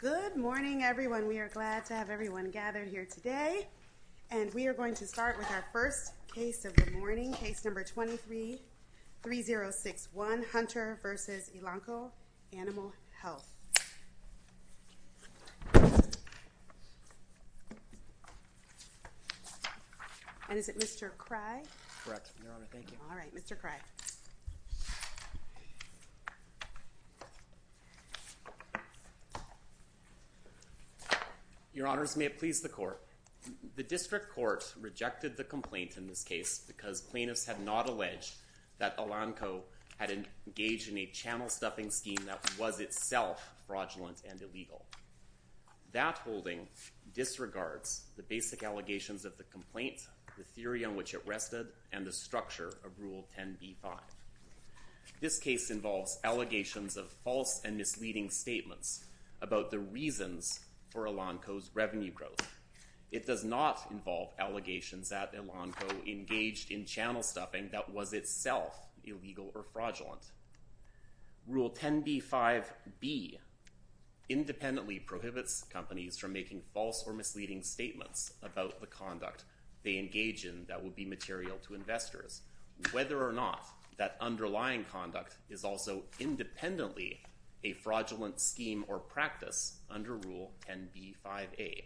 Good morning, everyone. We are glad to have everyone gathered here today, and we are going to start with our first case of the morning, case number 23-3061, Hunter v. Elanco Animal Health. And is it Mr. Cry? Correct, Your Honor. Thank you. All right, Mr. Cry. Your Honors, may it please the Court. The District Court rejected the complaint in this case because plaintiffs had not alleged that Elanco had engaged in a channel stuffing scheme that was itself fraudulent and illegal. That holding disregards the basic allegations of the complaint, the theory on which it rested, and the structure of Rule 10b-5. This case involves allegations of false and misleading statements about the reasons for Elanco's revenue growth. It does not involve allegations that Elanco engaged in channel stuffing that was itself illegal or fraudulent. Rule 10b-5b independently prohibits companies from making false or misleading statements about the conduct they engage in that would be material to investors. Whether or not that underlying conduct is also independently a fraudulent scheme or practice under Rule 10b-5a.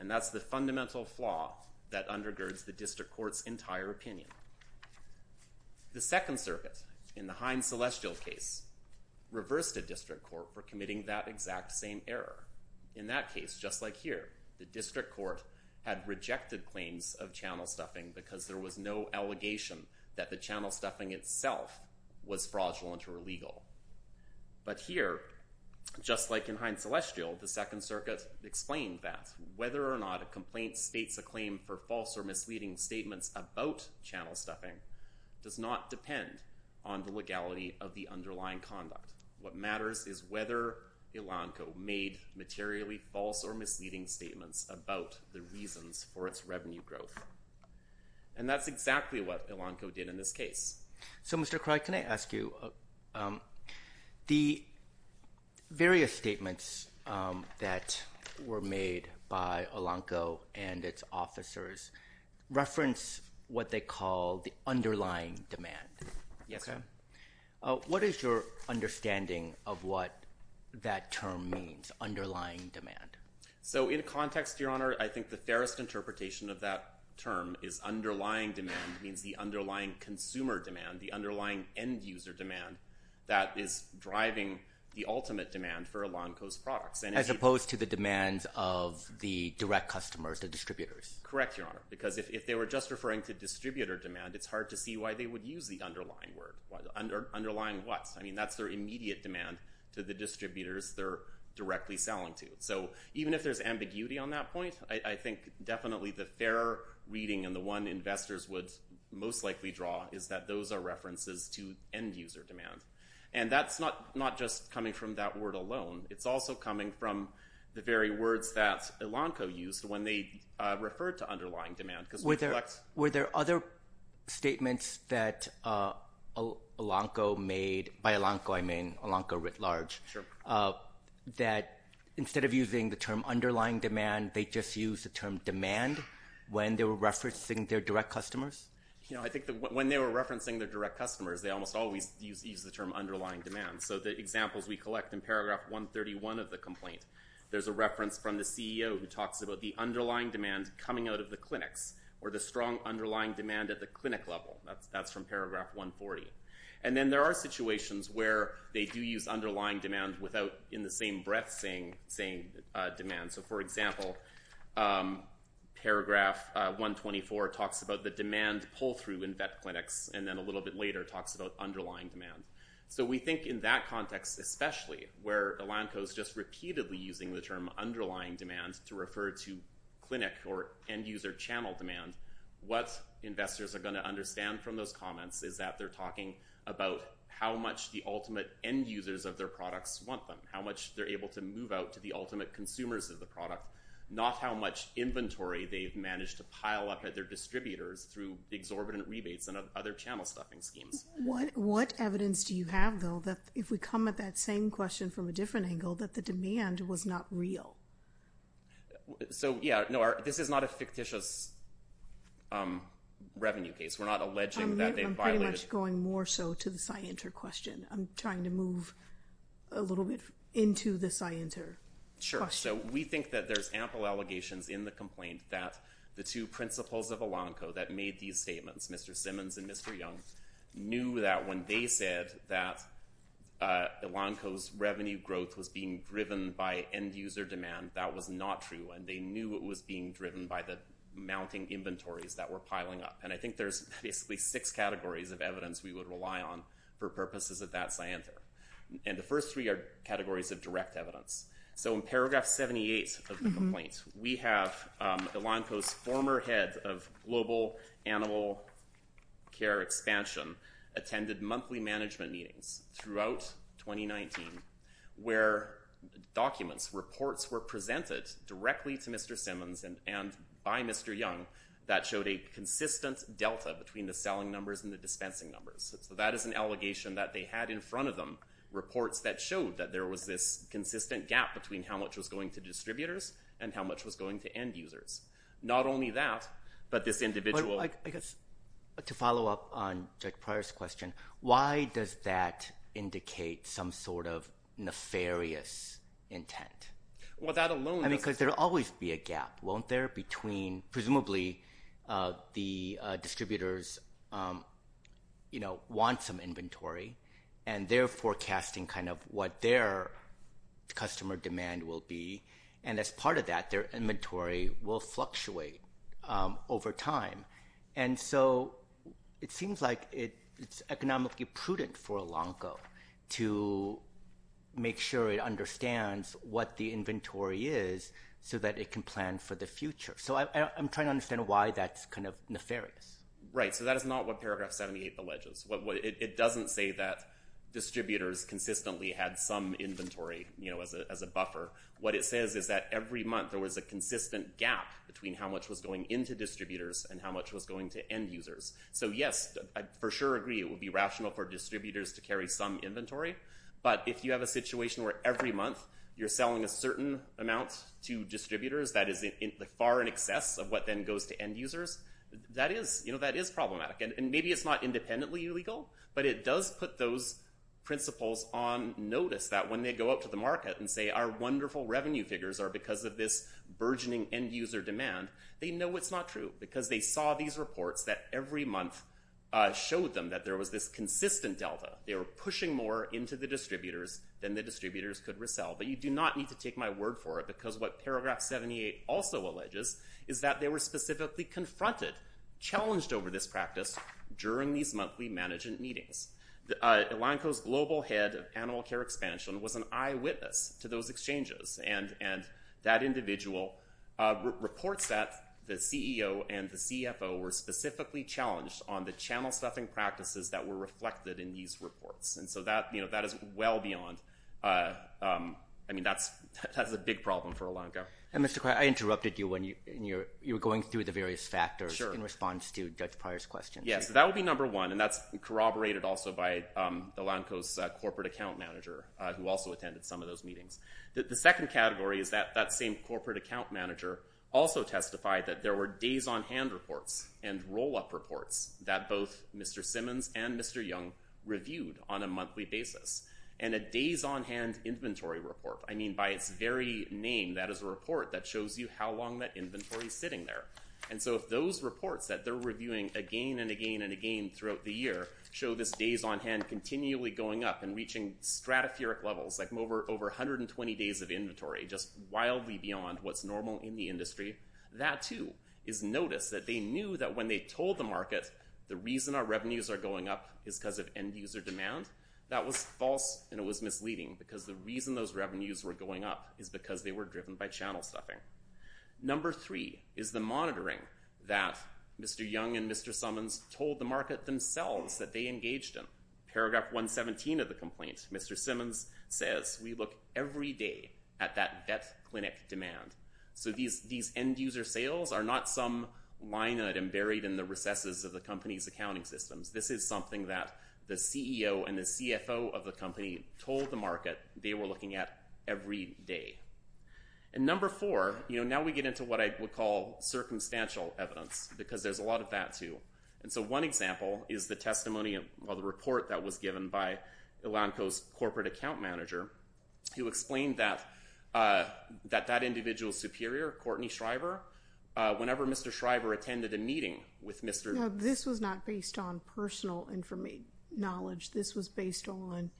And that's the fundamental flaw that undergirds the District Court's entire opinion. The Second Circuit, in the Hines-Celestial case, reversed the District Court for committing that exact same error. In that case, just like here, the District Court had rejected claims of channel stuffing because there was no allegation that the channel stuffing itself was fraudulent or illegal. But here, just like in Hines-Celestial, the Second Circuit explained that whether or not a complaint states a claim for false or misleading statements about channel stuffing does not depend on the legality of the underlying conduct. What matters is whether Elanco made materially false or misleading statements about the reasons for its revenue growth. And that's exactly what Elanco did in this case. So, Mr. Craig, can I ask you, the various statements that were made by Elanco and its officers reference what they call the underlying demand? So, in context, Your Honor, I think the fairest interpretation of that term is underlying demand means the underlying consumer demand, the underlying end-user demand that is driving the ultimate demand for Elanco's products. As opposed to the demands of the direct customers, the distributors. Correct, Your Honor. Because if they were just referring to distributor demand, it's hard to see why they would use the underlying word. Underlying what? I mean, their immediate demand to the distributors they're directly selling to. So, even if there's ambiguity on that point, I think definitely the fair reading and the one investors would most likely draw is that those are references to end-user demand. And that's not just coming from that word alone. It's also coming from the very words that Elanco used when they referred to underlying demand. Were there other statements that Elanco made, by Elanco I mean, Elanco writ large, that instead of using the term underlying demand, they just used the term demand when they were referencing their direct customers? You know, I think when they were referencing their direct customers, they almost always used the term underlying demand. So, the examples we collect in paragraph 131 of the complaint, there's a reference from the CEO who talks about the underlying demand coming out of the clinics or the strong underlying demand at the clinic level. That's from paragraph 140. And then there are situations where they do use underlying demand without in the same breath saying demand. So, for example, paragraph 124 talks about the demand pull through in vet clinics and then a little bit later talks about underlying demand. So, we think in that context especially, where Elanco's just repeatedly using the term underlying demand to refer to clinic or end-user channel demand, what investors are going to understand from those comments is that they're talking about how much the ultimate end-users of their products want them, how much they're able to move out to the ultimate consumers of the product, not how much inventory they've managed to pile up at their distributors through exorbitant rebates and other channel stuffing schemes. What evidence do you have, though, that if we come at that same question from a different angle, that the demand was not real? So, yeah. No, this is not a fictitious revenue case. We're not alleging that they violated... I'm pretty much going more so to the SciENter question. I'm trying to move a little bit into the SciENter question. Sure. So, we think that there's ample allegations in the complaint that the two principals of Elanco that made these statements, Mr. Simmons and Mr. Young, knew that when they said that Elanco's revenue growth was being driven by end-user demand, that was not true. And they knew it was being driven by the mounting inventories that were piling up. And I think there's basically six categories of evidence we would rely on for purposes of that SciENter. And the first three are categories of direct evidence. So, in paragraph 78 of the complaint, we have Elanco's former head of global animal care expansion attended monthly management meetings throughout 2019 where documents, reports were presented directly to Mr. Simmons and by Mr. Young that showed a consistent delta between the selling numbers and the dispensing numbers. So, that is an allegation that they had in front of them, reports that showed that there was this consistent gap between how much was going to distributors and how much was going to end-users. Not only that, but this individual- But I guess to follow up on Judge Pryor's question, why does that indicate some sort of nefarious intent? Well, that alone- I mean, because there will always be a gap, won't there, between presumably the distributors who want some inventory and they're forecasting kind of what their customer demand will be. And as part of that, their inventory will fluctuate over time. And so, it seems like it's economically prudent for Elanco to make sure it understands what the inventory is so that it can plan for the future. So, I'm trying to understand why that's kind of nefarious. Right. So, that is not what paragraph 78 alleges. It doesn't say that distributors consistently had some inventory as a buffer. What it says is that every month there was a consistent gap between how much was going into distributors and how much was going to end-users. So, yes, I for sure agree it would be rational for distributors to carry some inventory. But if you have a situation where every month you're selling a certain amount to distributors, that is problematic. And maybe it's not independently illegal, but it does put those principles on notice that when they go out to the market and say, our wonderful revenue figures are because of this burgeoning end-user demand, they know it's not true because they saw these reports that every month showed them that there was this consistent delta. They were pushing more into the distributors than the distributors could resell. But you do not need to take my word for it because what paragraph 78 also alleges is that they were specifically confronted, challenged over this practice during these monthly management meetings. Elanco's global head of animal care expansion was an eyewitness to those exchanges. And that individual reports that the CEO and the CFO were specifically challenged on the channel stuffing practices that were reflected in these reports. And so that is well beyond, I mean, that's a big problem for Elanco. And Mr. Krajewski, I interrupted you when you were going through the various factors in response to Judge Pryor's question. Yes, that would be number one. And that's corroborated also by Elanco's corporate account manager who also attended some of those meetings. The second category is that that same corporate account manager also testified that there were days on hand reports and roll-up reports that both Mr. Simmons and Mr. Young reviewed on a monthly basis. And a days on hand inventory report, I mean, by its very name, that is a report that those reports that they're reviewing again and again and again throughout the year, show this days on hand continually going up and reaching stratospheric levels, like over 120 days of inventory, just wildly beyond what's normal in the industry. That too is noticed that they knew that when they told the market, the reason our revenues are going up is because of end user demand, that was false. And it was misleading because the reason those revenues were going up is because they were driven by channel stuffing. Number three is the monitoring that Mr. Young and Mr. Summons told the market themselves that they engaged in. Paragraph 117 of the complaint, Mr. Simmons says, we look every day at that debt clinic demand. So these end user sales are not some line that are buried in the recesses of the company's accounting systems. This is something that the CEO and the CFO of the company told the market they were looking at every day. And number four, you know, now we get into what I would call circumstantial evidence, because there's a lot of that too. And so one example is the testimony of the report that was given by Elanco's corporate account manager, who explained that that individual superior, Courtney Shriver, whenever Mr. Shriver attended a meeting with Mr. This was not based on personal information knowledge. This was based on,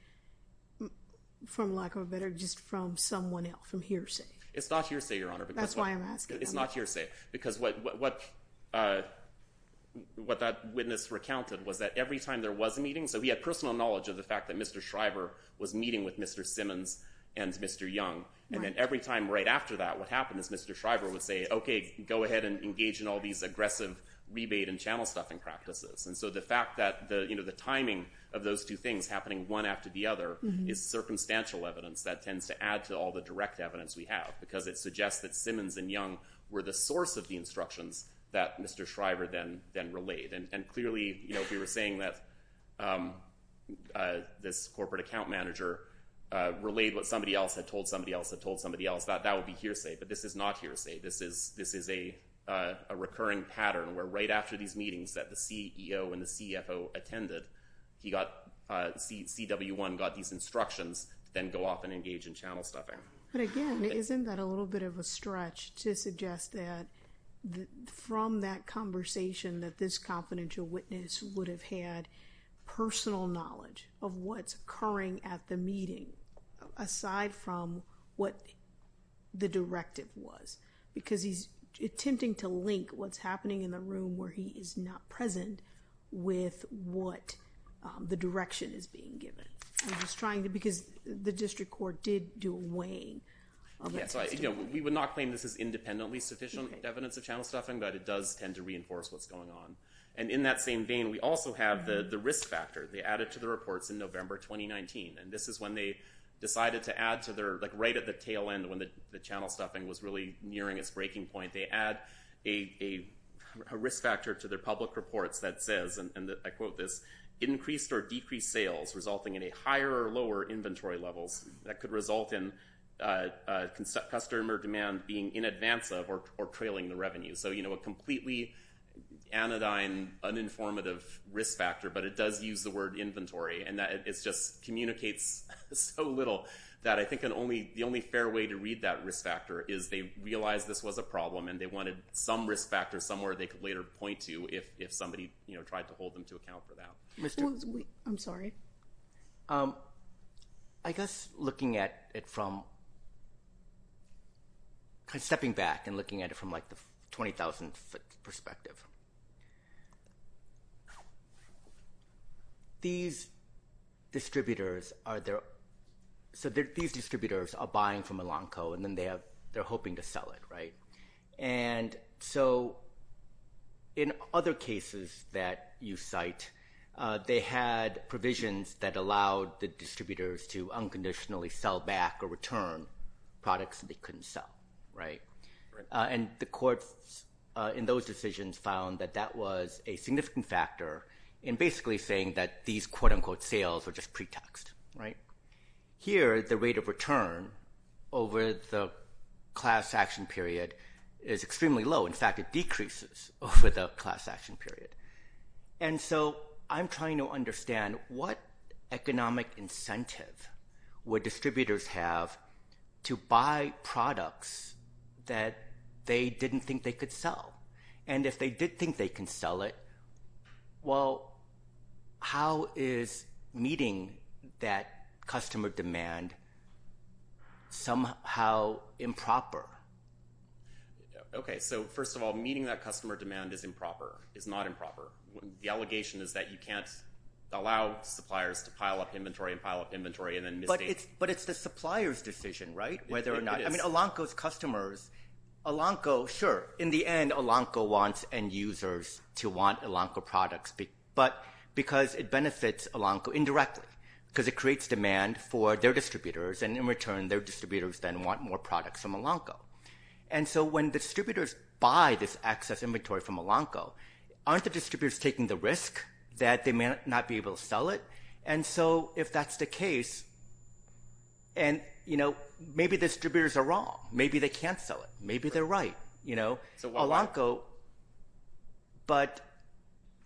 for lack of a better, just from someone else from hearsay. It's not hearsay, Your Honor. That's why I'm asking. It's not hearsay, because what what that witness recounted was that every time there was a meeting, so he had personal knowledge of the fact that Mr. Shriver was meeting with Mr. Simmons and Mr. Young. And every time right after that, what happened is Mr. Shriver would say, okay, go ahead and engage in all these aggressive rebate and channel stuffing practices. And so the fact that, you know, the timing of those two things happening one after the other is circumstantial evidence that tends to add to all the direct evidence we have, because it suggests that Simmons and Young were the source of the instructions that Mr. Shriver then relayed. And clearly, you know, if you were saying that this corporate account manager relayed what somebody else had told somebody else, that would be hearsay. But this is not hearsay. This is a recurring pattern, where right after these meetings that the CEO and the CFO attended, CW1 got these instructions to then go off and engage in channel stuffing. But again, isn't that a little bit of a stretch to suggest that from that conversation that this confidential witness would have had what the directive was? Because he's attempting to link what's happening in the room where he is not present with what the direction is being given. I'm just trying to, because the district court did do a weighing. Okay, so I, you know, we would not claim this is independently sufficient evidence of channel stuffing, but it does tend to reinforce what's going on. And in that same vein, we also have the risk factor. They added to the reports in November 2019. And this is when they decided to add to their, like right at the tail end when the channel stuffing was really nearing its breaking point, they add a risk factor to their public reports that says, and I quote this, increased or decreased sales resulting in a higher or lower inventory levels that could result in customer demand being in advance of or trailing the revenue. So, you know, a completely anodyne, uninformative risk factor, but it does use the word inventory. And it just communicates so little that I think the only fair way to read that risk factor is they realized this was a problem and they wanted some risk factor somewhere they could later point to if somebody, you know, tried to hold them to account for that. I'm sorry. I guess looking at it from, kind of stepping back and looking at it from like the 20,000 foot perspective. These distributors are there, so these distributors are buying from Elanco and then they have, they're hoping to sell it, right? And so in other cases that you cite, they had provisions that allowed the distributors to unconditionally sell back or return products they couldn't sell, right? And the courts in those decisions found that that was a significant factor in basically saying that these quote unquote sales were just pre-taxed, right? Here, the rate of return over the class action period is extremely low. In fact, it decreases over the class action period. And so I'm trying to understand what economic incentive would distributors have to buy products that they didn't think they could sell? And if they did think they can sell it, well, how is meeting that customer demand somehow improper? Okay. So first of all, meeting that customer demand is improper, is not improper. The suppliers to pile up inventory and pile up inventory. But it's the supplier's decision, right? Whether or not, I mean, Elanco's customers, Elanco, sure, in the end, Elanco wants end users to want Elanco products, but because it benefits Elanco indirectly, because it creates demand for their distributors. And in return, their distributors then want more products from Elanco. And so when distributors buy this excess inventory from Elanco, aren't the distributors taking the risk that they may not be able to sell it? And so if that's the case, and maybe distributors are wrong. Maybe they can't sell it. Maybe they're right. But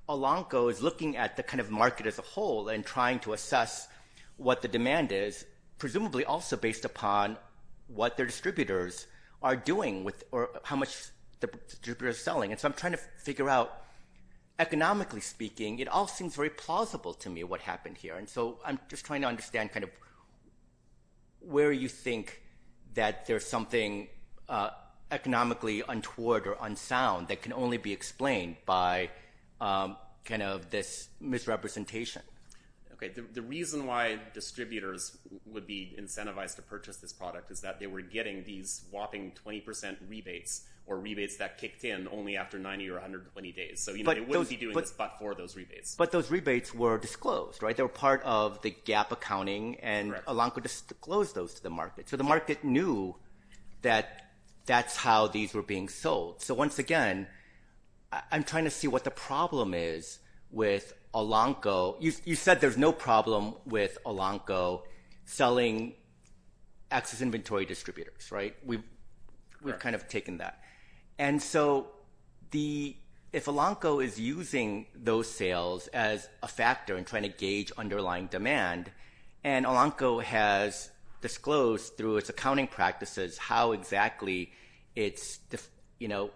Elanco is looking at the kind of market as a whole and trying to assess what the demand is, presumably also based upon what their distributors are doing or how much the distributors are selling. And so I'm trying to figure out, economically speaking, it all seems very plausible to me what happened here. And so I'm just trying to understand where you think that there's something economically untoward or unsound that can only be explained by this misrepresentation. Okay. The reason why distributors would be incentivized to purchase this product is that they were getting these whopping 20% rebates or rebates that kicked in only after 90 or 120 days. So they wouldn't be doing this but for those rebates. But those rebates were disclosed, right? They were part of the gap accounting and Elanco disclosed those to the market. So the market knew that that's how these were being sold. So once again, I'm trying to see what the problem is with Elanco. You said there's no And so if Elanco is using those sales as a factor in trying to gauge underlying demand, and Elanco has disclosed through its accounting practices how exactly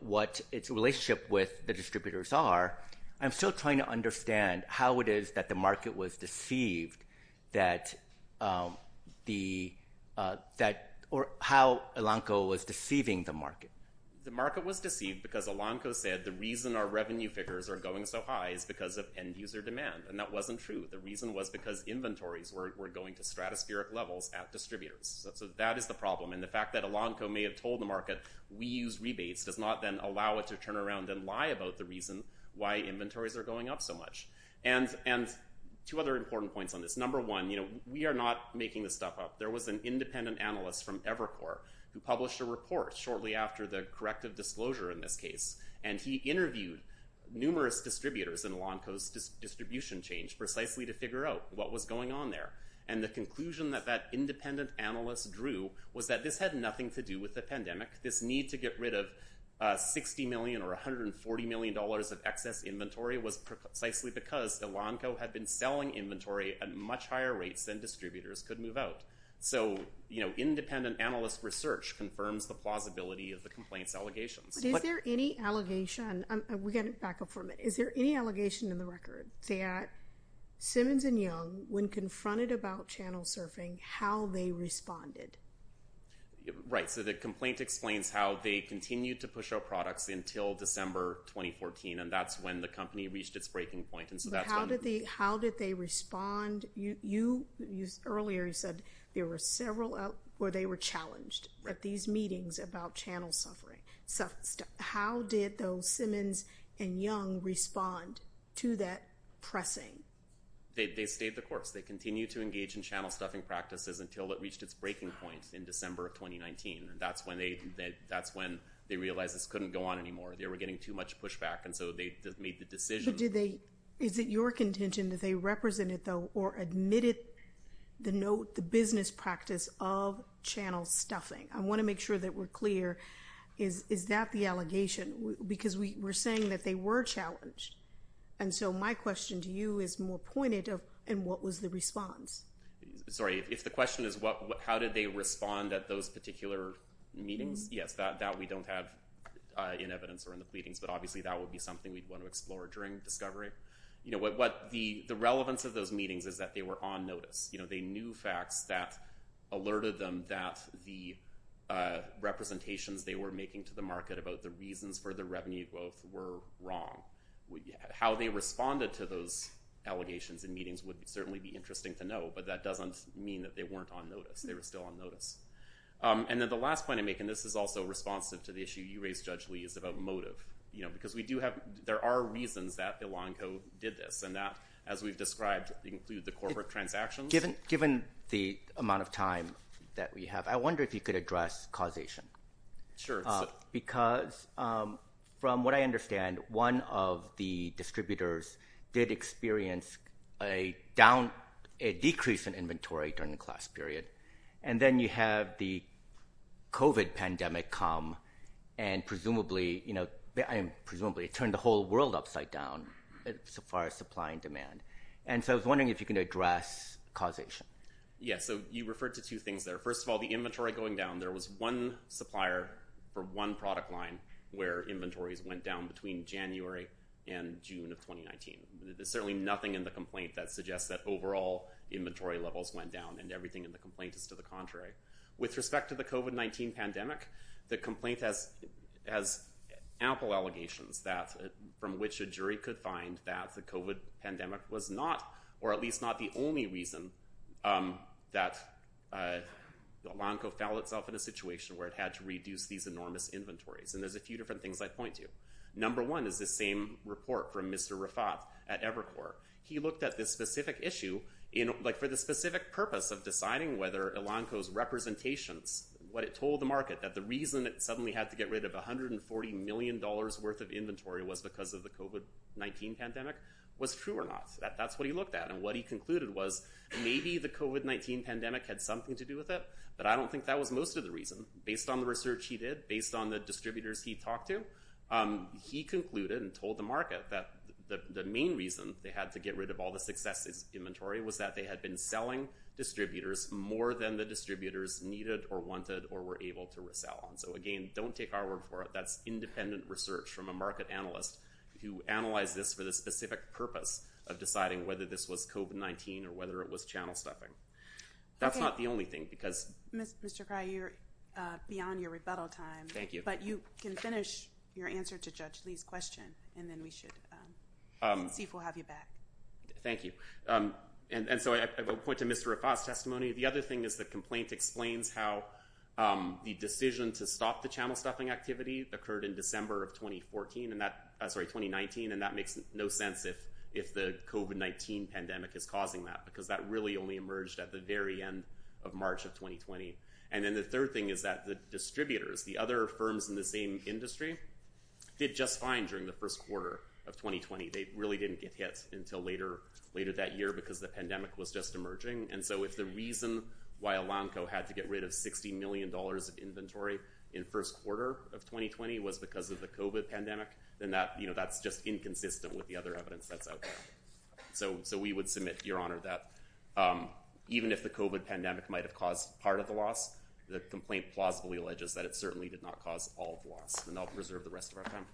what its relationship with the distributors are, I'm still trying to understand how it is that market was deceived or how Elanco was deceiving the market. The market was deceived because Elanco said the reason our revenue figures are going so high is because of end user demand. And that wasn't true. The reason was because inventories were going to stratospheric levels at distributors. So that is the problem. And the fact that Elanco may have told the market, we use rebates does not then allow it to turn around and lie about the reason why inventories are going up so much. And two other important points on this. Number one, we are not making this stuff up. There was an independent analyst from Evercore who published a report shortly after the corrective disclosure in this case. And he interviewed numerous distributors in Elanco's distribution change precisely to figure out what was going on there. And the conclusion that that independent analyst drew was that this had nothing to do with the pandemic. This need to get rid of $60 million or $140 million of excess inventory was precisely because Elanco had been selling inventory at much higher rates than distributors could move out. So independent analyst research confirms the plausibility of the complaint's allegations. But is there any allegation, and we're going to back up for a minute, is there any allegation in the record that Simmons and Young, when confronted about channel surfing, how they responded? Right. So the complaint explains how they challenged at these meetings about channel suffering. So how did those Simmons and Young respond to that pressing? They stayed the course. They continued to engage in channel stuffing practices until it reached its breaking point in December of 2019. And that's when they realized this couldn't go on anymore. They were getting too much pushback. And so they just made the decision. Is it your contention that they represented, though, or admitted the business practice of channel stuffing? I want to make sure that we're clear. Is that the allegation? Because we were saying that they were challenged. And so my question to you is more pointed in what was the response? Sorry, if the question is how did they respond at those particular meetings? Yes, that we don't have in evidence or in the pleadings. But obviously, that would be something we'd want to explore during discovery. The relevance of those meetings is that they were on notice. They knew facts that alerted them that the representations they were making to the market about the reasons for the revenue growth were wrong. How they responded to those allegations in meetings would certainly be interesting to know. But that doesn't mean that they weren't on notice. They were still on notice. And then the last point I make, and this is also responsive to the issue you raised, Judge Lee, is about motive. Because there are reasons that Ilanco did this. And that, as we've described, include the corporate transactions. Given the amount of time that we have, I wonder if you could address causation. Sure. Because from what I understand, one of the distributors did experience a decrease in the supply. And so I was wondering if you can address causation. Yes. So you referred to two things there. First of all, the inventory going down, there was one supplier for one product line where inventories went down between January and June of 2019. There's certainly nothing in the complaint that suggests that overall inventory levels went down and everything in the complaint is to the contrary. With respect to the COVID-19 pandemic, the complaint has ample allegations from which a jury could find that the COVID pandemic was not, or at least not the only reason that Ilanco found itself in a situation where it had to reduce these enormous inventories. And there's a few different things I'd point to. Number one is the same report from Mr. Rafat at Evercore. He looked at this specific issue for the specific purpose of deciding whether Ilanco's representations, what it told the market, that the reason it suddenly had to get rid of $140 million worth of inventory was because of the COVID-19 pandemic was true or not. That's what he looked at. And what he concluded was maybe the COVID-19 pandemic had something to do with it, but I don't think that was most of the reason. Based on the research he did, based on the distributors he talked to, he concluded and told the market that the main reason they had to get rid of all the success inventory was that they had been selling distributors more than the distributors needed or wanted or were able to resell. And so again, don't take our word for it. That's independent research from a market analyst who analyzed this for the specific purpose of deciding whether this was COVID-19 or whether it was channel stuffing. That's not the only thing because- Mr. Kraj, you're beyond your rebuttal time. Thank you. But you can finish your answer to Judge Lee's question and then we should see if we'll have you back. Thank you. And so I will point to Mr. Rafa's testimony. The other thing is the complaint explains how the decision to stop the channel stuffing activity occurred in December of 2019 and that makes no sense if the COVID-19 pandemic is causing that because that really only emerged at the very end of March of 2020. And then the third thing is that the distributors, the other firms in the same industry, did just fine during the first quarter of 2020. They really didn't get hit until later that year because the pandemic was just emerging. And so if the reason why Elanco had to get rid of $60 million of inventory in first quarter of 2020 was because of the COVID pandemic, then that's just your honor that even if the COVID pandemic might have caused part of the loss, the complaint plausibly alleges that it certainly did not cause all of the loss and I'll reserve the rest of our time.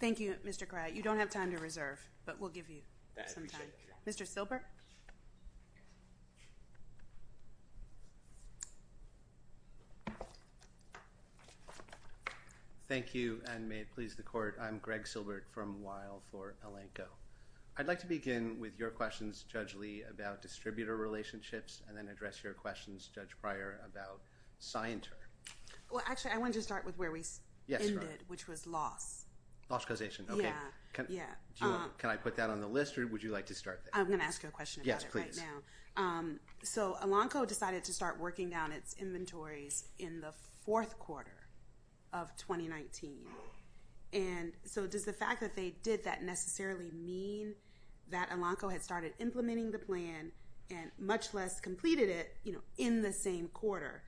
Thank you, Mr. Kraj. You don't have time to reserve, but we'll give you some time. Mr. Silbert. Thank you and may it please the court. I'm Greg Silbert from Weill for Elanco. I'd like to begin with your questions, Judge Lee, about distributor relationships and then address your questions, Judge Pryor, about Scienter. Well, actually, I wanted to start with where we ended, which was loss. Loss causation. Okay. Can I put that on the list or would you like to start there? I'm going to ask you a question about it right now. Yes, please. So Elanco decided to start working down its inventories in the fourth quarter of 2019. And so does the fact that they did that necessarily mean that Elanco had started implementing the plan and much less completed it in the same quarter?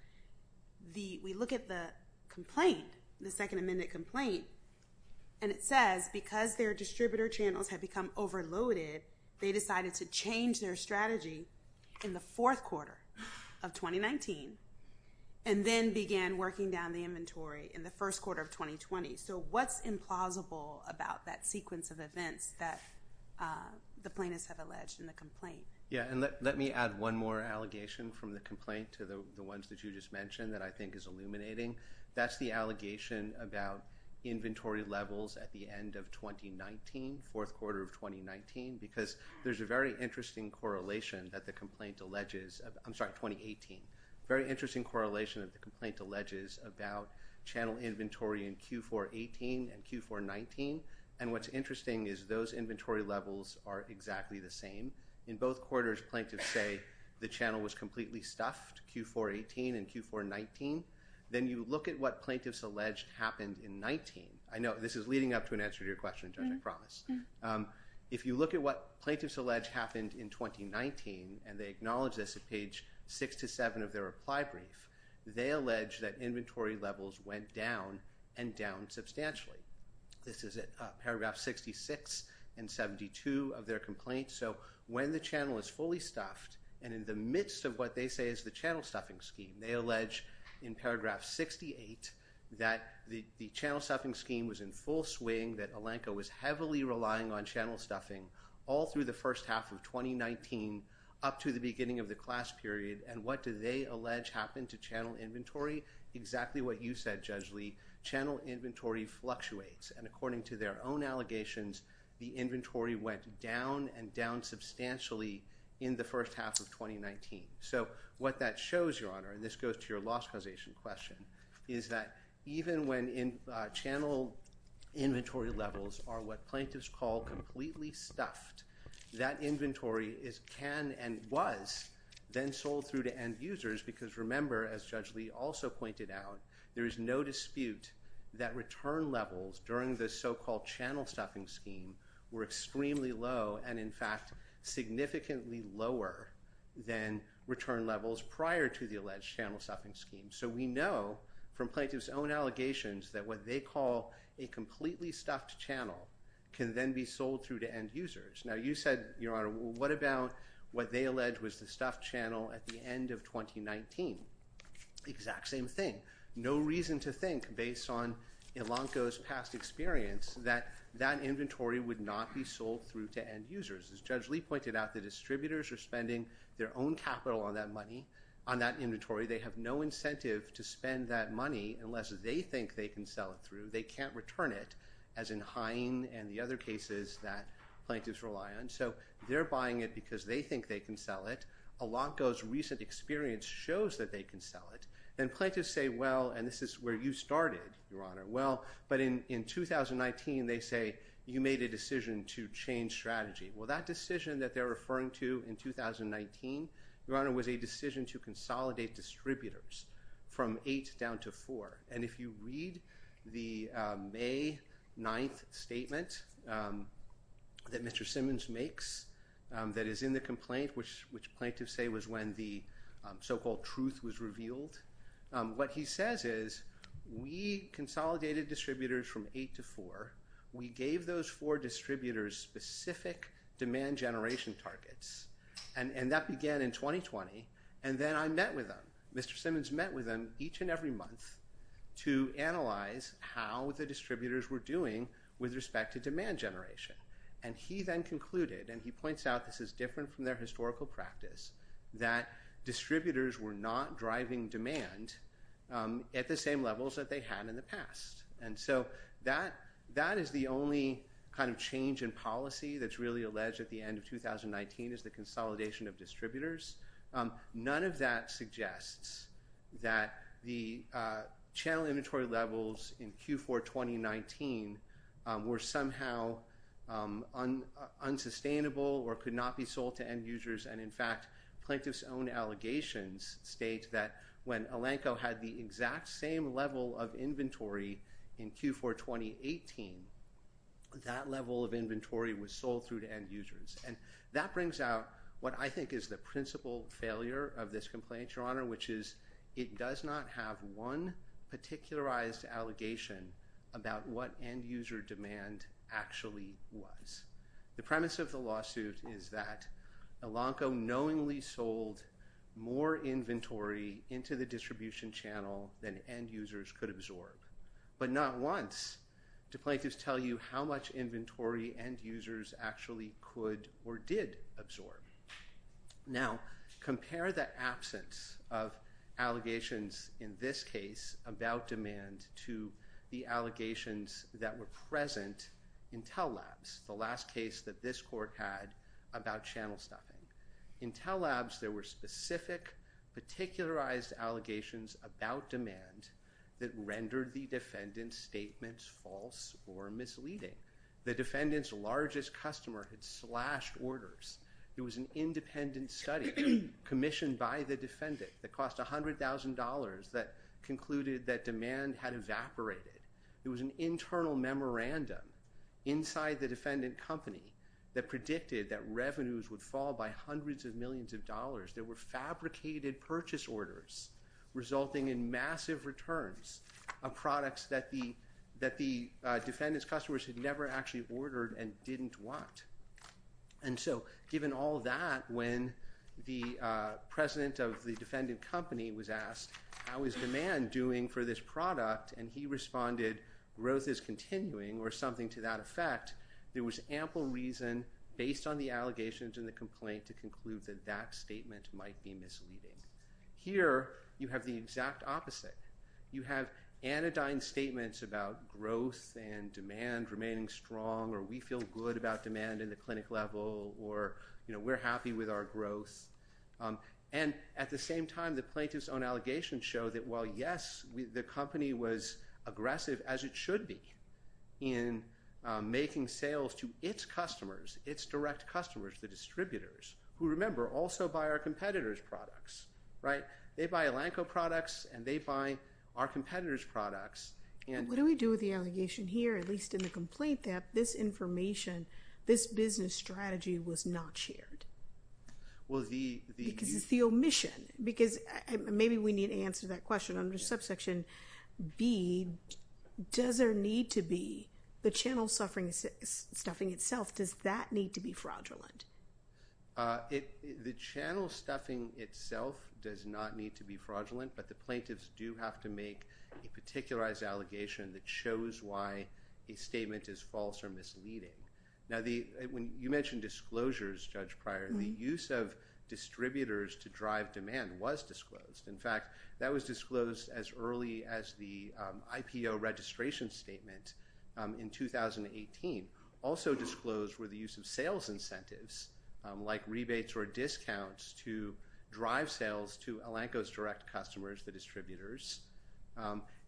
We look at the complaint, the second amended complaint, and it says because their distributor channels had become overloaded, they decided to change their strategy in the fourth quarter of 2019 and then began working down the inventory in the first quarter of 2020. So what's implausible about that sequence of events that the plaintiffs have alleged in the complaint? Yeah. And let me add one more allegation from the complaint to the ones that you just mentioned that I think is illuminating. That's the allegation about inventory levels at the end of 2019, fourth quarter of 2019, because there's a very interesting correlation that the complaint alleges... I'm sorry, 2018. Very interesting correlation that the complaint alleges about channel inventory in Q4-18 and Q4-19. And what's interesting is those inventory levels are exactly the same. In both quarters, plaintiffs say the channel was completely stuffed, Q4-18 and Q4-19. Then you look at what plaintiffs alleged happened in 19. I know this is leading up to an answer to your question, Judge, I promise. If you look at what plaintiffs allege happened in 2019, and they acknowledge this at page six to seven of their reply brief, they allege that inventory levels went down and down substantially. This is at paragraph 66 and 72 of their complaint. So when the channel is fully stuffed, and in the midst of what they say is the channel stuffing scheme, they allege in paragraph 68 that the channel stuffing scheme was in full swing, that Alenco was heavily relying on channel stuffing all through the first half of 2019 up to the beginning of the class period. And what do they allege happened to channel inventory? Exactly what you said, Judge Lee, channel inventory fluctuates. And according to their own allegations, the inventory went down and down substantially in the first half of 2019. So what that shows, Your Honor, and this goes to your loss causation question, is that even when channel inventory levels are what plaintiffs call completely stuffed, that inventory can and was then sold through to end users. Because remember, as Judge Lee also pointed out, there is no dispute that return levels during the so-called channel stuffing scheme were extremely low, and in fact, significantly lower than return levels prior to the alleged channel stuffing scheme. So we know from plaintiff's own allegations that what they call a completely stuffed channel can then be sold through to end users. Now you said, Your Honor, what about what they allege was the stuffed channel at the end of 2019? Exact same thing. No reason to think, based on Alenco's past experience, that that inventory would not be sold through to end users. As Judge Lee pointed out, the distributors are spending their own capital on that money, on that inventory. They have no incentive to spend that money unless they think they can sell it through. They can't return it, as in Hine and the other cases that plaintiffs rely on. So they're buying it because they think they can sell it. Alenco's recent experience shows that they can sell it. Then plaintiffs say, well, and this is where you started, Your Honor. Well, but in 2019, they say, you made a decision to change strategy. Well, that decision that they're referring to in 2019, Your Honor, was a decision to consolidate distributors from eight down to four. If you read the May 9th statement that Mr. Simmons makes that is in the complaint, which plaintiffs say was when the so-called truth was revealed, what he says is, we consolidated distributors from eight to four. We gave those four distributors specific demand generation targets. That began in 2020. Then I met with them. Mr. Simmons met with them each and every month to analyze how the distributors were doing with respect to demand generation. He then concluded, and he points out this is different from their historical practice, that distributors were not driving demand at the same levels that they had in the past. That is the only kind of change in policy that's really alleged at the end of 2019 is the consolidation of distributors. None of that suggests that the channel inventory levels in Q4 2019 were somehow unsustainable or could not be sold to end users. In fact, plaintiffs' own allegations state that when Elanco had the exact same level of inventory in Q4 2018, that level of inventory was sold through to end users. That brings out what I think is the principal failure of this complaint, Your Honor, which is it does not have one particularized allegation about what end user demand actually was. The premise of the lawsuit is that Elanco knowingly sold more inventory into the distribution channel than end users could absorb, but not once do plaintiffs tell you how much inventory end users actually could or did absorb. Now, compare the absence of allegations in this case about demand to the allegations that were present in Tell Labs, the last case that this court had about channel stuffing. In Tell Labs, there were false or misleading. The defendant's largest customer had slashed orders. It was an independent study commissioned by the defendant that cost $100,000 that concluded that demand had evaporated. There was an internal memorandum inside the defendant company that predicted that revenues would fall by hundreds of millions of dollars. There were fabricated purchase orders resulting in massive returns of products that the defendant's customers had never actually ordered and didn't want. Given all that, when the president of the defendant company was asked, how is demand doing for this product? He responded, growth is continuing or something to that effect. There was ample reason based on the allegations in the complaint to conclude that that statement might be misleading. Here, you have the exact opposite. You have anodyne statements about growth and demand remaining strong, or we feel good about demand in the clinic level, or we're happy with our growth. And at the same time, the plaintiff's own allegations show that while, yes, the company was aggressive as it should be in making sales to its customers, its direct customers, the distributors, who, remember, also buy our competitors' products. They buy Elanco products and they buy our competitors' products. What do we do with the allegation here, at least in the complaint that this information, this business strategy was not shared? Because it's the omission. Because maybe we need to answer that question under subsection B, does there need to be the channel stuffing itself, does that need to be fraudulent? The channel stuffing itself does not need to be fraudulent, but the plaintiffs do have to make a particularized allegation that shows why a statement is false or misleading. Now, when you mentioned disclosures, Judge Pryor, the use of distributors to drive demand was disclosed. In fact, that was disclosed as early as the IPO registration statement in 2018. Also disclosed were the use of sales incentives, like rebates or discounts, to drive sales to Elanco's direct customers, the distributors.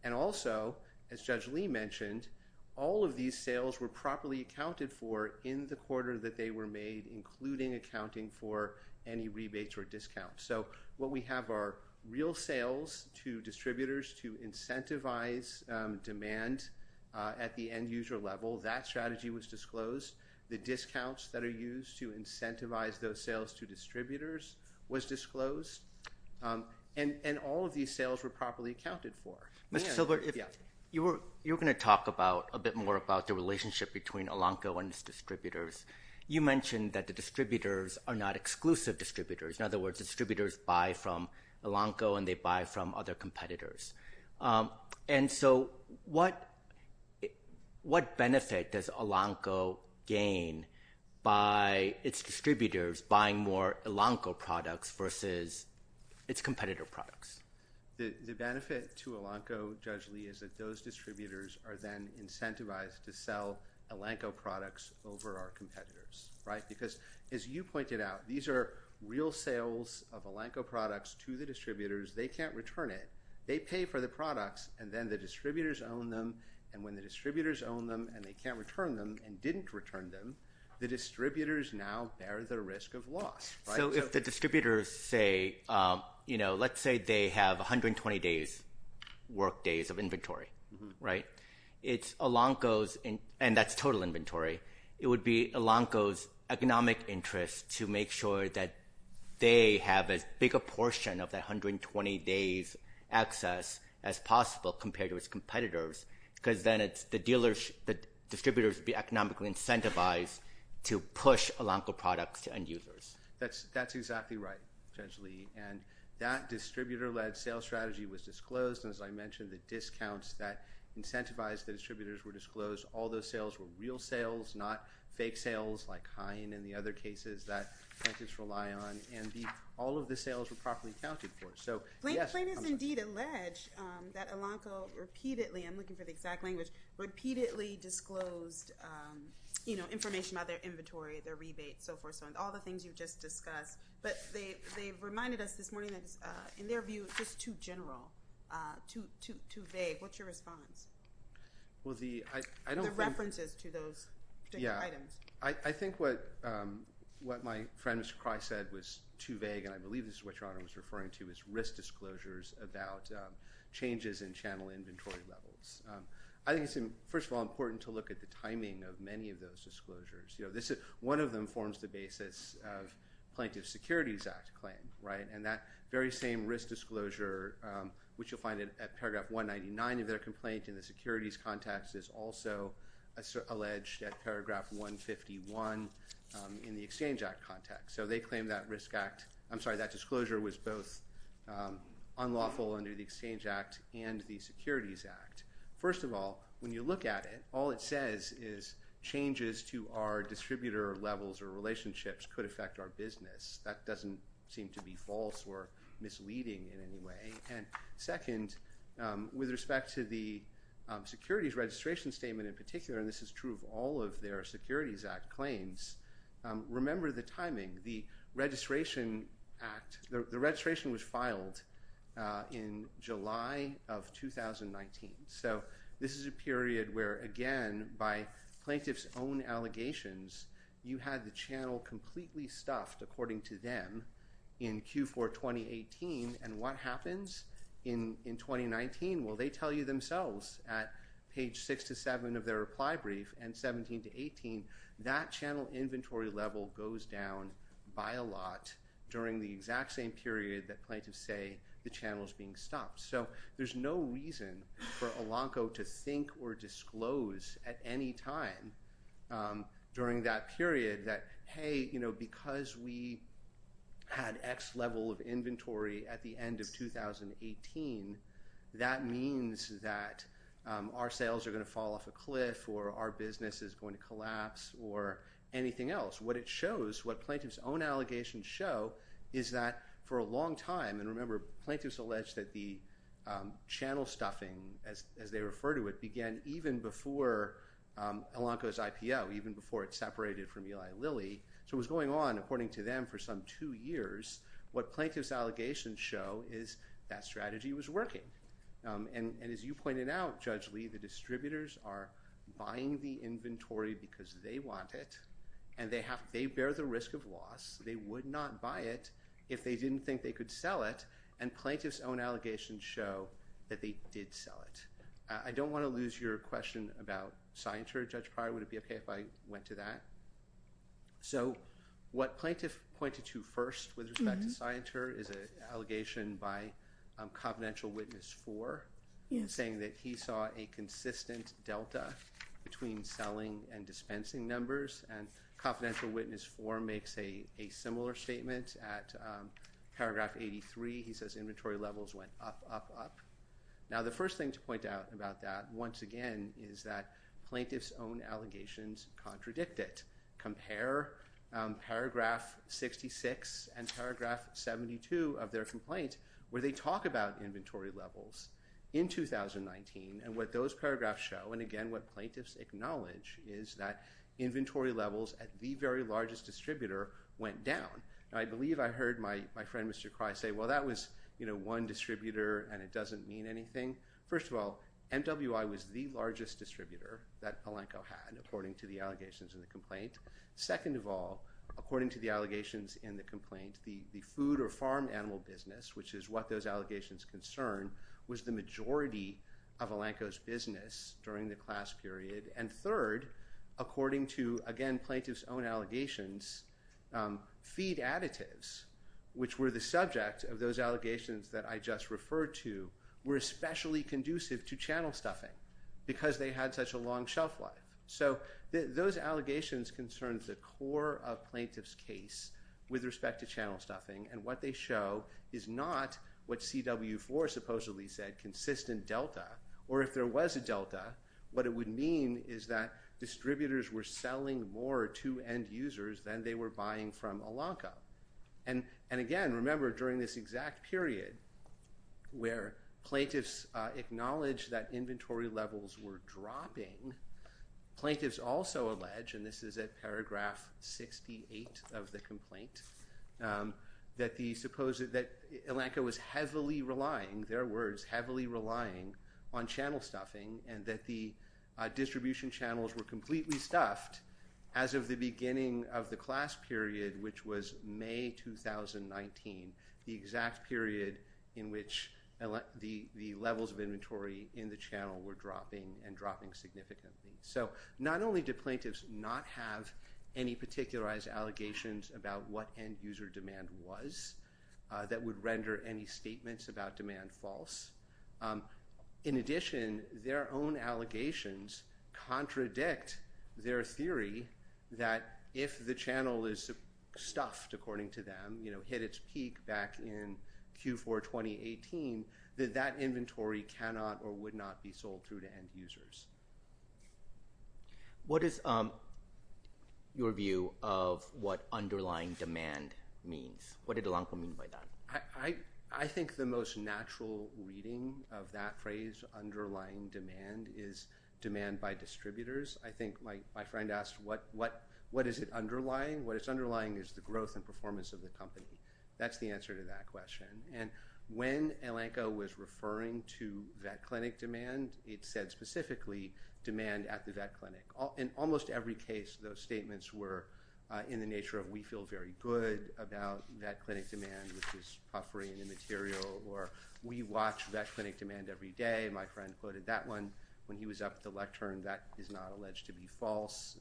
And also, as Judge Lee mentioned, all of these sales were properly accounted for in the quarter that they were made, including accounting for any rebates or discounts. So what we have are real sales to distributors to incentivize demand at the end-user level. That strategy was disclosed. The discounts that are used to incentivize those sales to distributors was disclosed. And all of these sales were properly accounted for. Mr. Silver, you were going to talk a bit more about the relationship between Elanco and its distributors. You mentioned that the distributors are not exclusive distributors. In other words, distributors buy from Elanco and they buy from other competitors. And so what benefit does Elanco gain by its distributors buying more Elanco products versus its competitor products? The benefit to Elanco, Judge Lee, is that those distributors are then incentivized to sell of Elanco products to the distributors. They can't return it. They pay for the products, and then the distributors own them. And when the distributors own them and they can't return them and didn't return them, the distributors now bear the risk of loss. So if the distributors say, let's say they have 120 work days of inventory, right? It's Elanco's—and that's total inventory. It would be Elanco's economic interest to make sure that they have as big a portion of that 120 days' access as possible compared to its competitors, because then the distributors would be economically incentivized to push Elanco products to end users. That's exactly right, Judge Lee. And that incentivized the distributors were disclosed. All those sales were real sales, not fake sales like Hein and the other cases that plaintiffs rely on. And all of the sales were properly accounted for. So yes— Plaintiffs indeed allege that Elanco repeatedly—I'm looking for the exact language—repeatedly disclosed information about their inventory, their rebates, so forth, so on, all the things you've just discussed. But they've reminded us in their view, it's just too general, too vague. What's your response? Well, I don't think— The references to those particular items. Yeah. I think what my friend Mr. Kreis said was too vague, and I believe this is what Your Honor was referring to, is risk disclosures about changes in channel inventory levels. I think it's, first of all, important to look at the timing of many of those disclosures. One of them forms the basis of Plaintiff's Securities Act claim, right? And that very same risk disclosure, which you'll find at paragraph 199 of their complaint in the securities context, is also alleged at paragraph 151 in the Exchange Act context. So they claim that risk act—I'm sorry, that disclosure was both unlawful under the Exchange Act and the distributor levels or relationships could affect our business. That doesn't seem to be false or misleading in any way. And second, with respect to the securities registration statement in particular—and this is true of all of their Securities Act claims—remember the timing. The registration was filed in July of 2019. So this is a period where, again, by Plaintiff's own allegations, you had the channel completely stuffed, according to them, in Q4 2018. And what happens in 2019? Well, they tell you themselves at page 6 to 7 of their reply brief and 17 to 18, that channel inventory level goes down by a lot during the exact same period that plaintiffs say the channel's being stopped. So there's no reason for Elanco to think or disclose at any time during that period that, hey, because we had X level of inventory at the end of 2018, that means that our sales are going to fall off a cliff or our business is going to collapse or anything else. What it shows, what Plaintiff's own allegations show, is that for a long time—and remember, Plaintiff's alleged that the channel stuffing, as they refer to it, began even before Elanco's IPO, even before it separated from Eli Lilly. So it was going on, according to them, for some two years. What Plaintiff's allegations show is that strategy was working. And as you pointed out, Judge Lee, the distributors are buying the inventory because they want it, and they bear the risk of loss. They would not buy it if they didn't think they could sell it. And Plaintiff's own allegations show that they did sell it. I don't want to lose your question about Scienter, Judge Pryor. Would it be okay if I went to that? So what Plaintiff pointed to first with respect to Scienter is an allegation by Confidential Witness 4, saying that he saw a consistent delta between selling and dispensing numbers. And Confidential Witness 4 makes a similar statement. At paragraph 83, he says inventory levels went up, up, up. Now, the first thing to point out about that, once again, is that Plaintiff's own allegations contradict it. Compare paragraph 66 and paragraph 72 of their complaint, where they talk about inventory levels in 2019. And what those paragraphs show, and again, what Plaintiff's acknowledge, is that inventory levels at the very largest distributor went down. And I believe I heard my friend, Mr. Pryor say, well, that was one distributor and it doesn't mean anything. First of all, MWI was the largest distributor that Alanco had, according to the allegations in the complaint. Second of all, according to the allegations in the complaint, the food or farm animal business, which is what those allegations concern, was the majority of Alanco's business during the class period. And third, according to, again, Plaintiff's own allegations, feed additives, which were the subject of those allegations that I just referred to, were especially conducive to channel stuffing because they had such a long shelf life. So those allegations concerns the core of Plaintiff's case with respect to channel stuffing. And what they show is not what CW4 supposedly said, consistent delta, or if there was a delta, what it would mean is that distributors were selling more to end users than they were buying from Alanco. And again, remember during this exact period where Plaintiff's acknowledge that inventory levels were dropping, Plaintiff's also allege, and this is at paragraph 68 of the complaint, that Alanco was heavily relying, their words, heavily relying on channel stuffing and that the distribution channels were completely stuffed as of the beginning of the class period, which was May 2019, the exact period in which the levels of inventory in the channel were dropping and dropping significantly. So not only do Plaintiffs not have any particularized allegations about what end user demand was that would render any In addition, their own allegations contradict their theory that if the channel is stuffed, according to them, hit its peak back in Q4 2018, that that inventory cannot or would not be sold through to end users. What is your view of what underlying demand means? What did Alanco mean by that? I think the most natural reading of that phrase underlying demand is demand by distributors. I think my friend asked what is it underlying? What it's underlying is the growth and performance of the company. That's the answer to that question. And when Alanco was referring to that clinic demand, it said specifically demand at the vet clinic. In almost every case, those statements were in the nature of we feel very good about that clinic demand, which is puffery and immaterial, or we watch vet clinic demand every day. My friend quoted that one when he was up at the lectern that is not alleged to be false.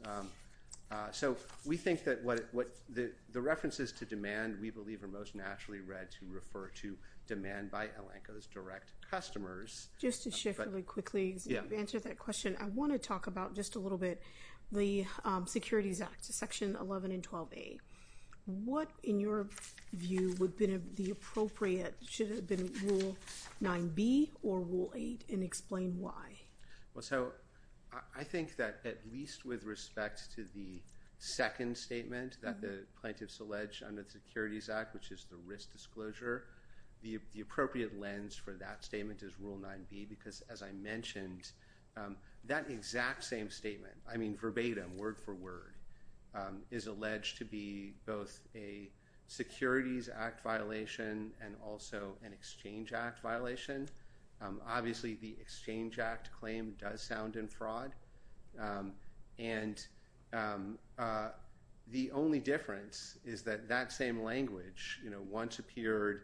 So we think that what the references to demand we believe are most naturally read to refer to demand by Alanco's direct customers. Just to shift really quickly to answer that question, I want to talk about just a little bit the Securities Act, section 11 and 12a. What, in your view, would have been the appropriate, should have been rule 9b or rule 8 and explain why? Well, so I think that at least with respect to the second statement that the plaintiffs allege under the Securities Act, which is the risk disclosure, the appropriate lens for that statement is rule 9b, because as I mentioned, that exact same statement, I mean verbatim, word for word, is alleged to be both a Securities Act violation and also an Exchange Act violation. Obviously, the Exchange Act claim does sound in fraud. And the only difference is that that same language once appeared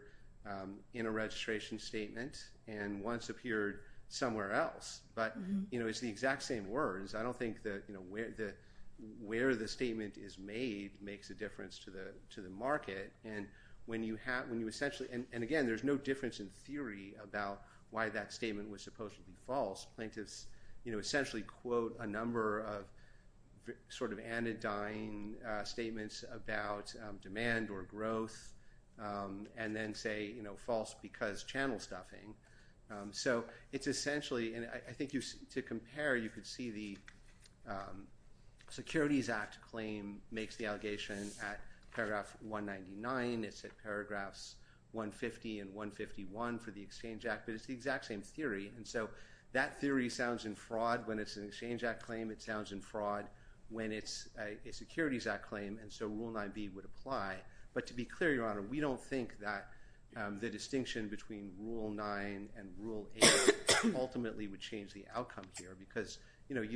in a registration statement and once appeared somewhere else. But it's the exact same words. I don't think where the statement is made makes a difference to the market. And again, there's no difference in theory about why that statement was supposed to be false. Plaintiffs essentially quote a number of sort of anodyne statements about demand or growth and then say, you know, false because channel stuffing. So it's essentially, and I think to compare, you could see the Securities Act claim makes the allegation at paragraph 199. It's at paragraphs 150 and 151 for the Exchange Act. But it's the exact same theory. And so that theory sounds in fraud when it's an Exchange Act claim. It sounds in fraud when it's a Securities Act claim. And so Rule 9b would apply. But to be clear, Your Honor, we don't think that the distinction between Rule 9 and Rule 8 ultimately would change the outcome here. Because, you know,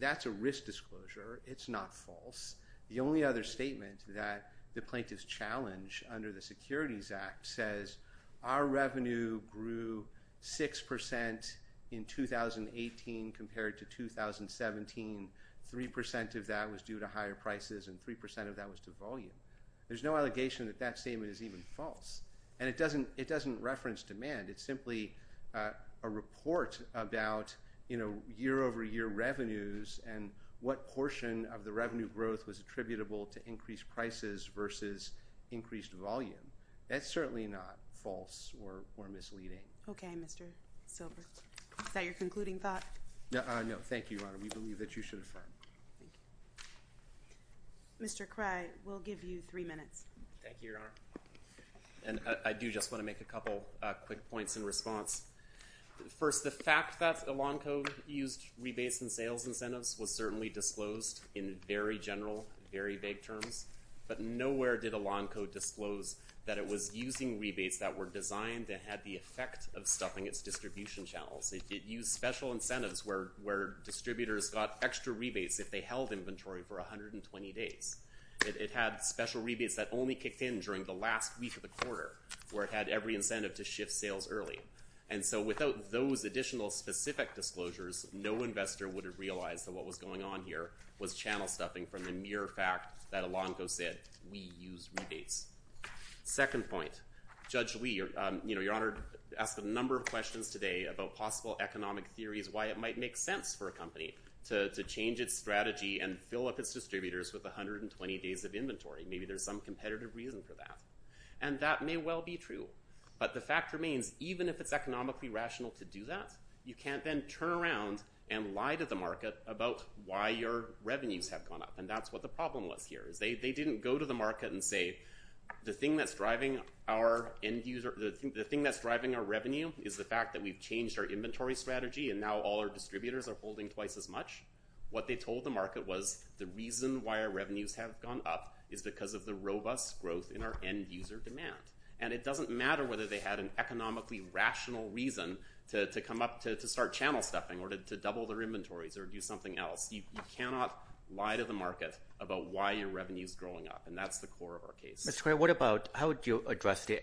that's a risk disclosure. It's not false. The only other statement that the plaintiffs challenge under the Securities Act says our revenue grew 6% in 2018 compared to 2017. Three percent of that was due to higher prices and three percent of that was to volume. There's no allegation that that statement is even false. And it doesn't reference demand. It's simply a report about, you know, year over year revenues and what portion of the revenue growth was attributable to increased prices versus increased volume. That's certainly not false or misleading. Okay, Mr. Silver. Is that your concluding thought? No, thank you, Your Honor. We believe that you should affirm. Mr. Krey, we'll give you three minutes. Thank you, Your Honor. And I do just want to make a couple quick points in response. First, the fact that Elanco used rebates and sales incentives was certainly disclosed in very general, very vague terms. But nowhere did Elanco disclose that it was using rebates that were designed to have the effect of stuffing its distribution channels. It used special incentives where distributors got extra rebates if they held inventory for 120 days. It had special rebates that only kicked in during the last week of the quarter where it had every incentive to shift sales early. And so without those additional specific disclosures, no investor would have realized that what was going on here was channel stuffing from the mere fact that Elanco said we use rebates. Second point, Judge Lee, you know, Your Honor, asked a number of questions today about possible economic theories why it might make sense for a company to change its strategy and fill up its distributors with 120 days of inventory. Maybe there's some competitive reason for that. And that may well be true. But the fact remains, even if it's economically rational to do that, you can't then turn around and lie to the market about why your revenues have gone up. And that's what the problem was here, is they didn't go to the market and say the thing that's driving our end user, the thing that's driving our revenue is the fact that we've changed our inventory strategy and now all our distributors are holding twice as much. What they told the market was the reason why our revenues have gone up is because of the robust growth in our end user demand. And it doesn't matter whether they had an economically rational reason to come up to start channel stuffing or to double their inventories or do something else. You cannot lie to the market about why your revenue is growing up. And that's the core of our case. Mr. Cray, how would you address the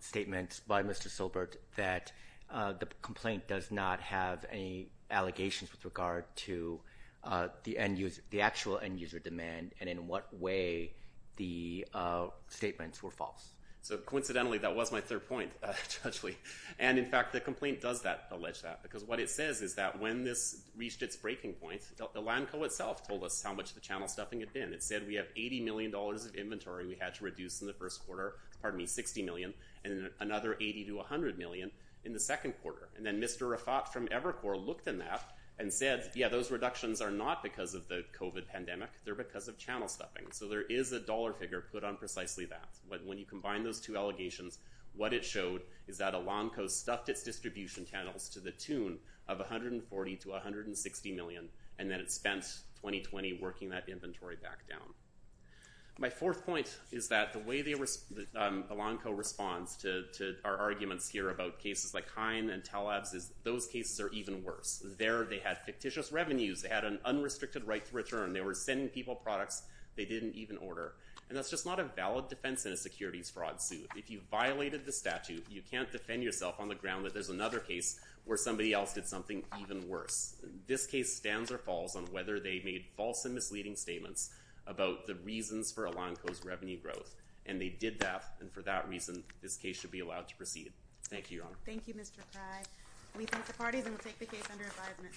statements by Mr. Silbert that the complaint does not have any allegations with regard to the actual end user demand and in what way the statements were false? So coincidentally, that was my third point, Judge Lee. And in fact, the complaint does that, allege that, because what it says is that when this reached its breaking point, the LANCO itself told us how much the channel stuffing had been. It said we have $80 million of inventory we had to reduce in the first quarter, pardon me, $60 million and another $80 to $100 million in the second quarter. And then Mr. Rafat from Evercore looked in that and said, yeah, those reductions are not because of the COVID pandemic. They're because of channel stuffing. So there is a dollar figure put on precisely that. When you combine those two allegations, what it showed is that a LANCO stuffed its distribution channels to the tune of $140 to $160 million. And then it spent 2020 working that inventory back down. My fourth point is that the way the LANCO responds to our arguments here about cases like Hein and Telabs is those cases are even worse. There they had fictitious revenues. They had an unrestricted right to return. They were sending people products they didn't even order. And that's just not a valid defense in a securities fraud suit. If you violated the statute, you can't defend yourself on the ground that there's another case where somebody else did something even worse. This case stands or falls on whether they made false and misleading statements about the reasons for a LANCO's revenue growth. And they did that. And for that reason, this case should be allowed to proceed. Thank you, Your Honor. Thank you, Mr. Craig. We thank the parties and we'll take the case under advisement.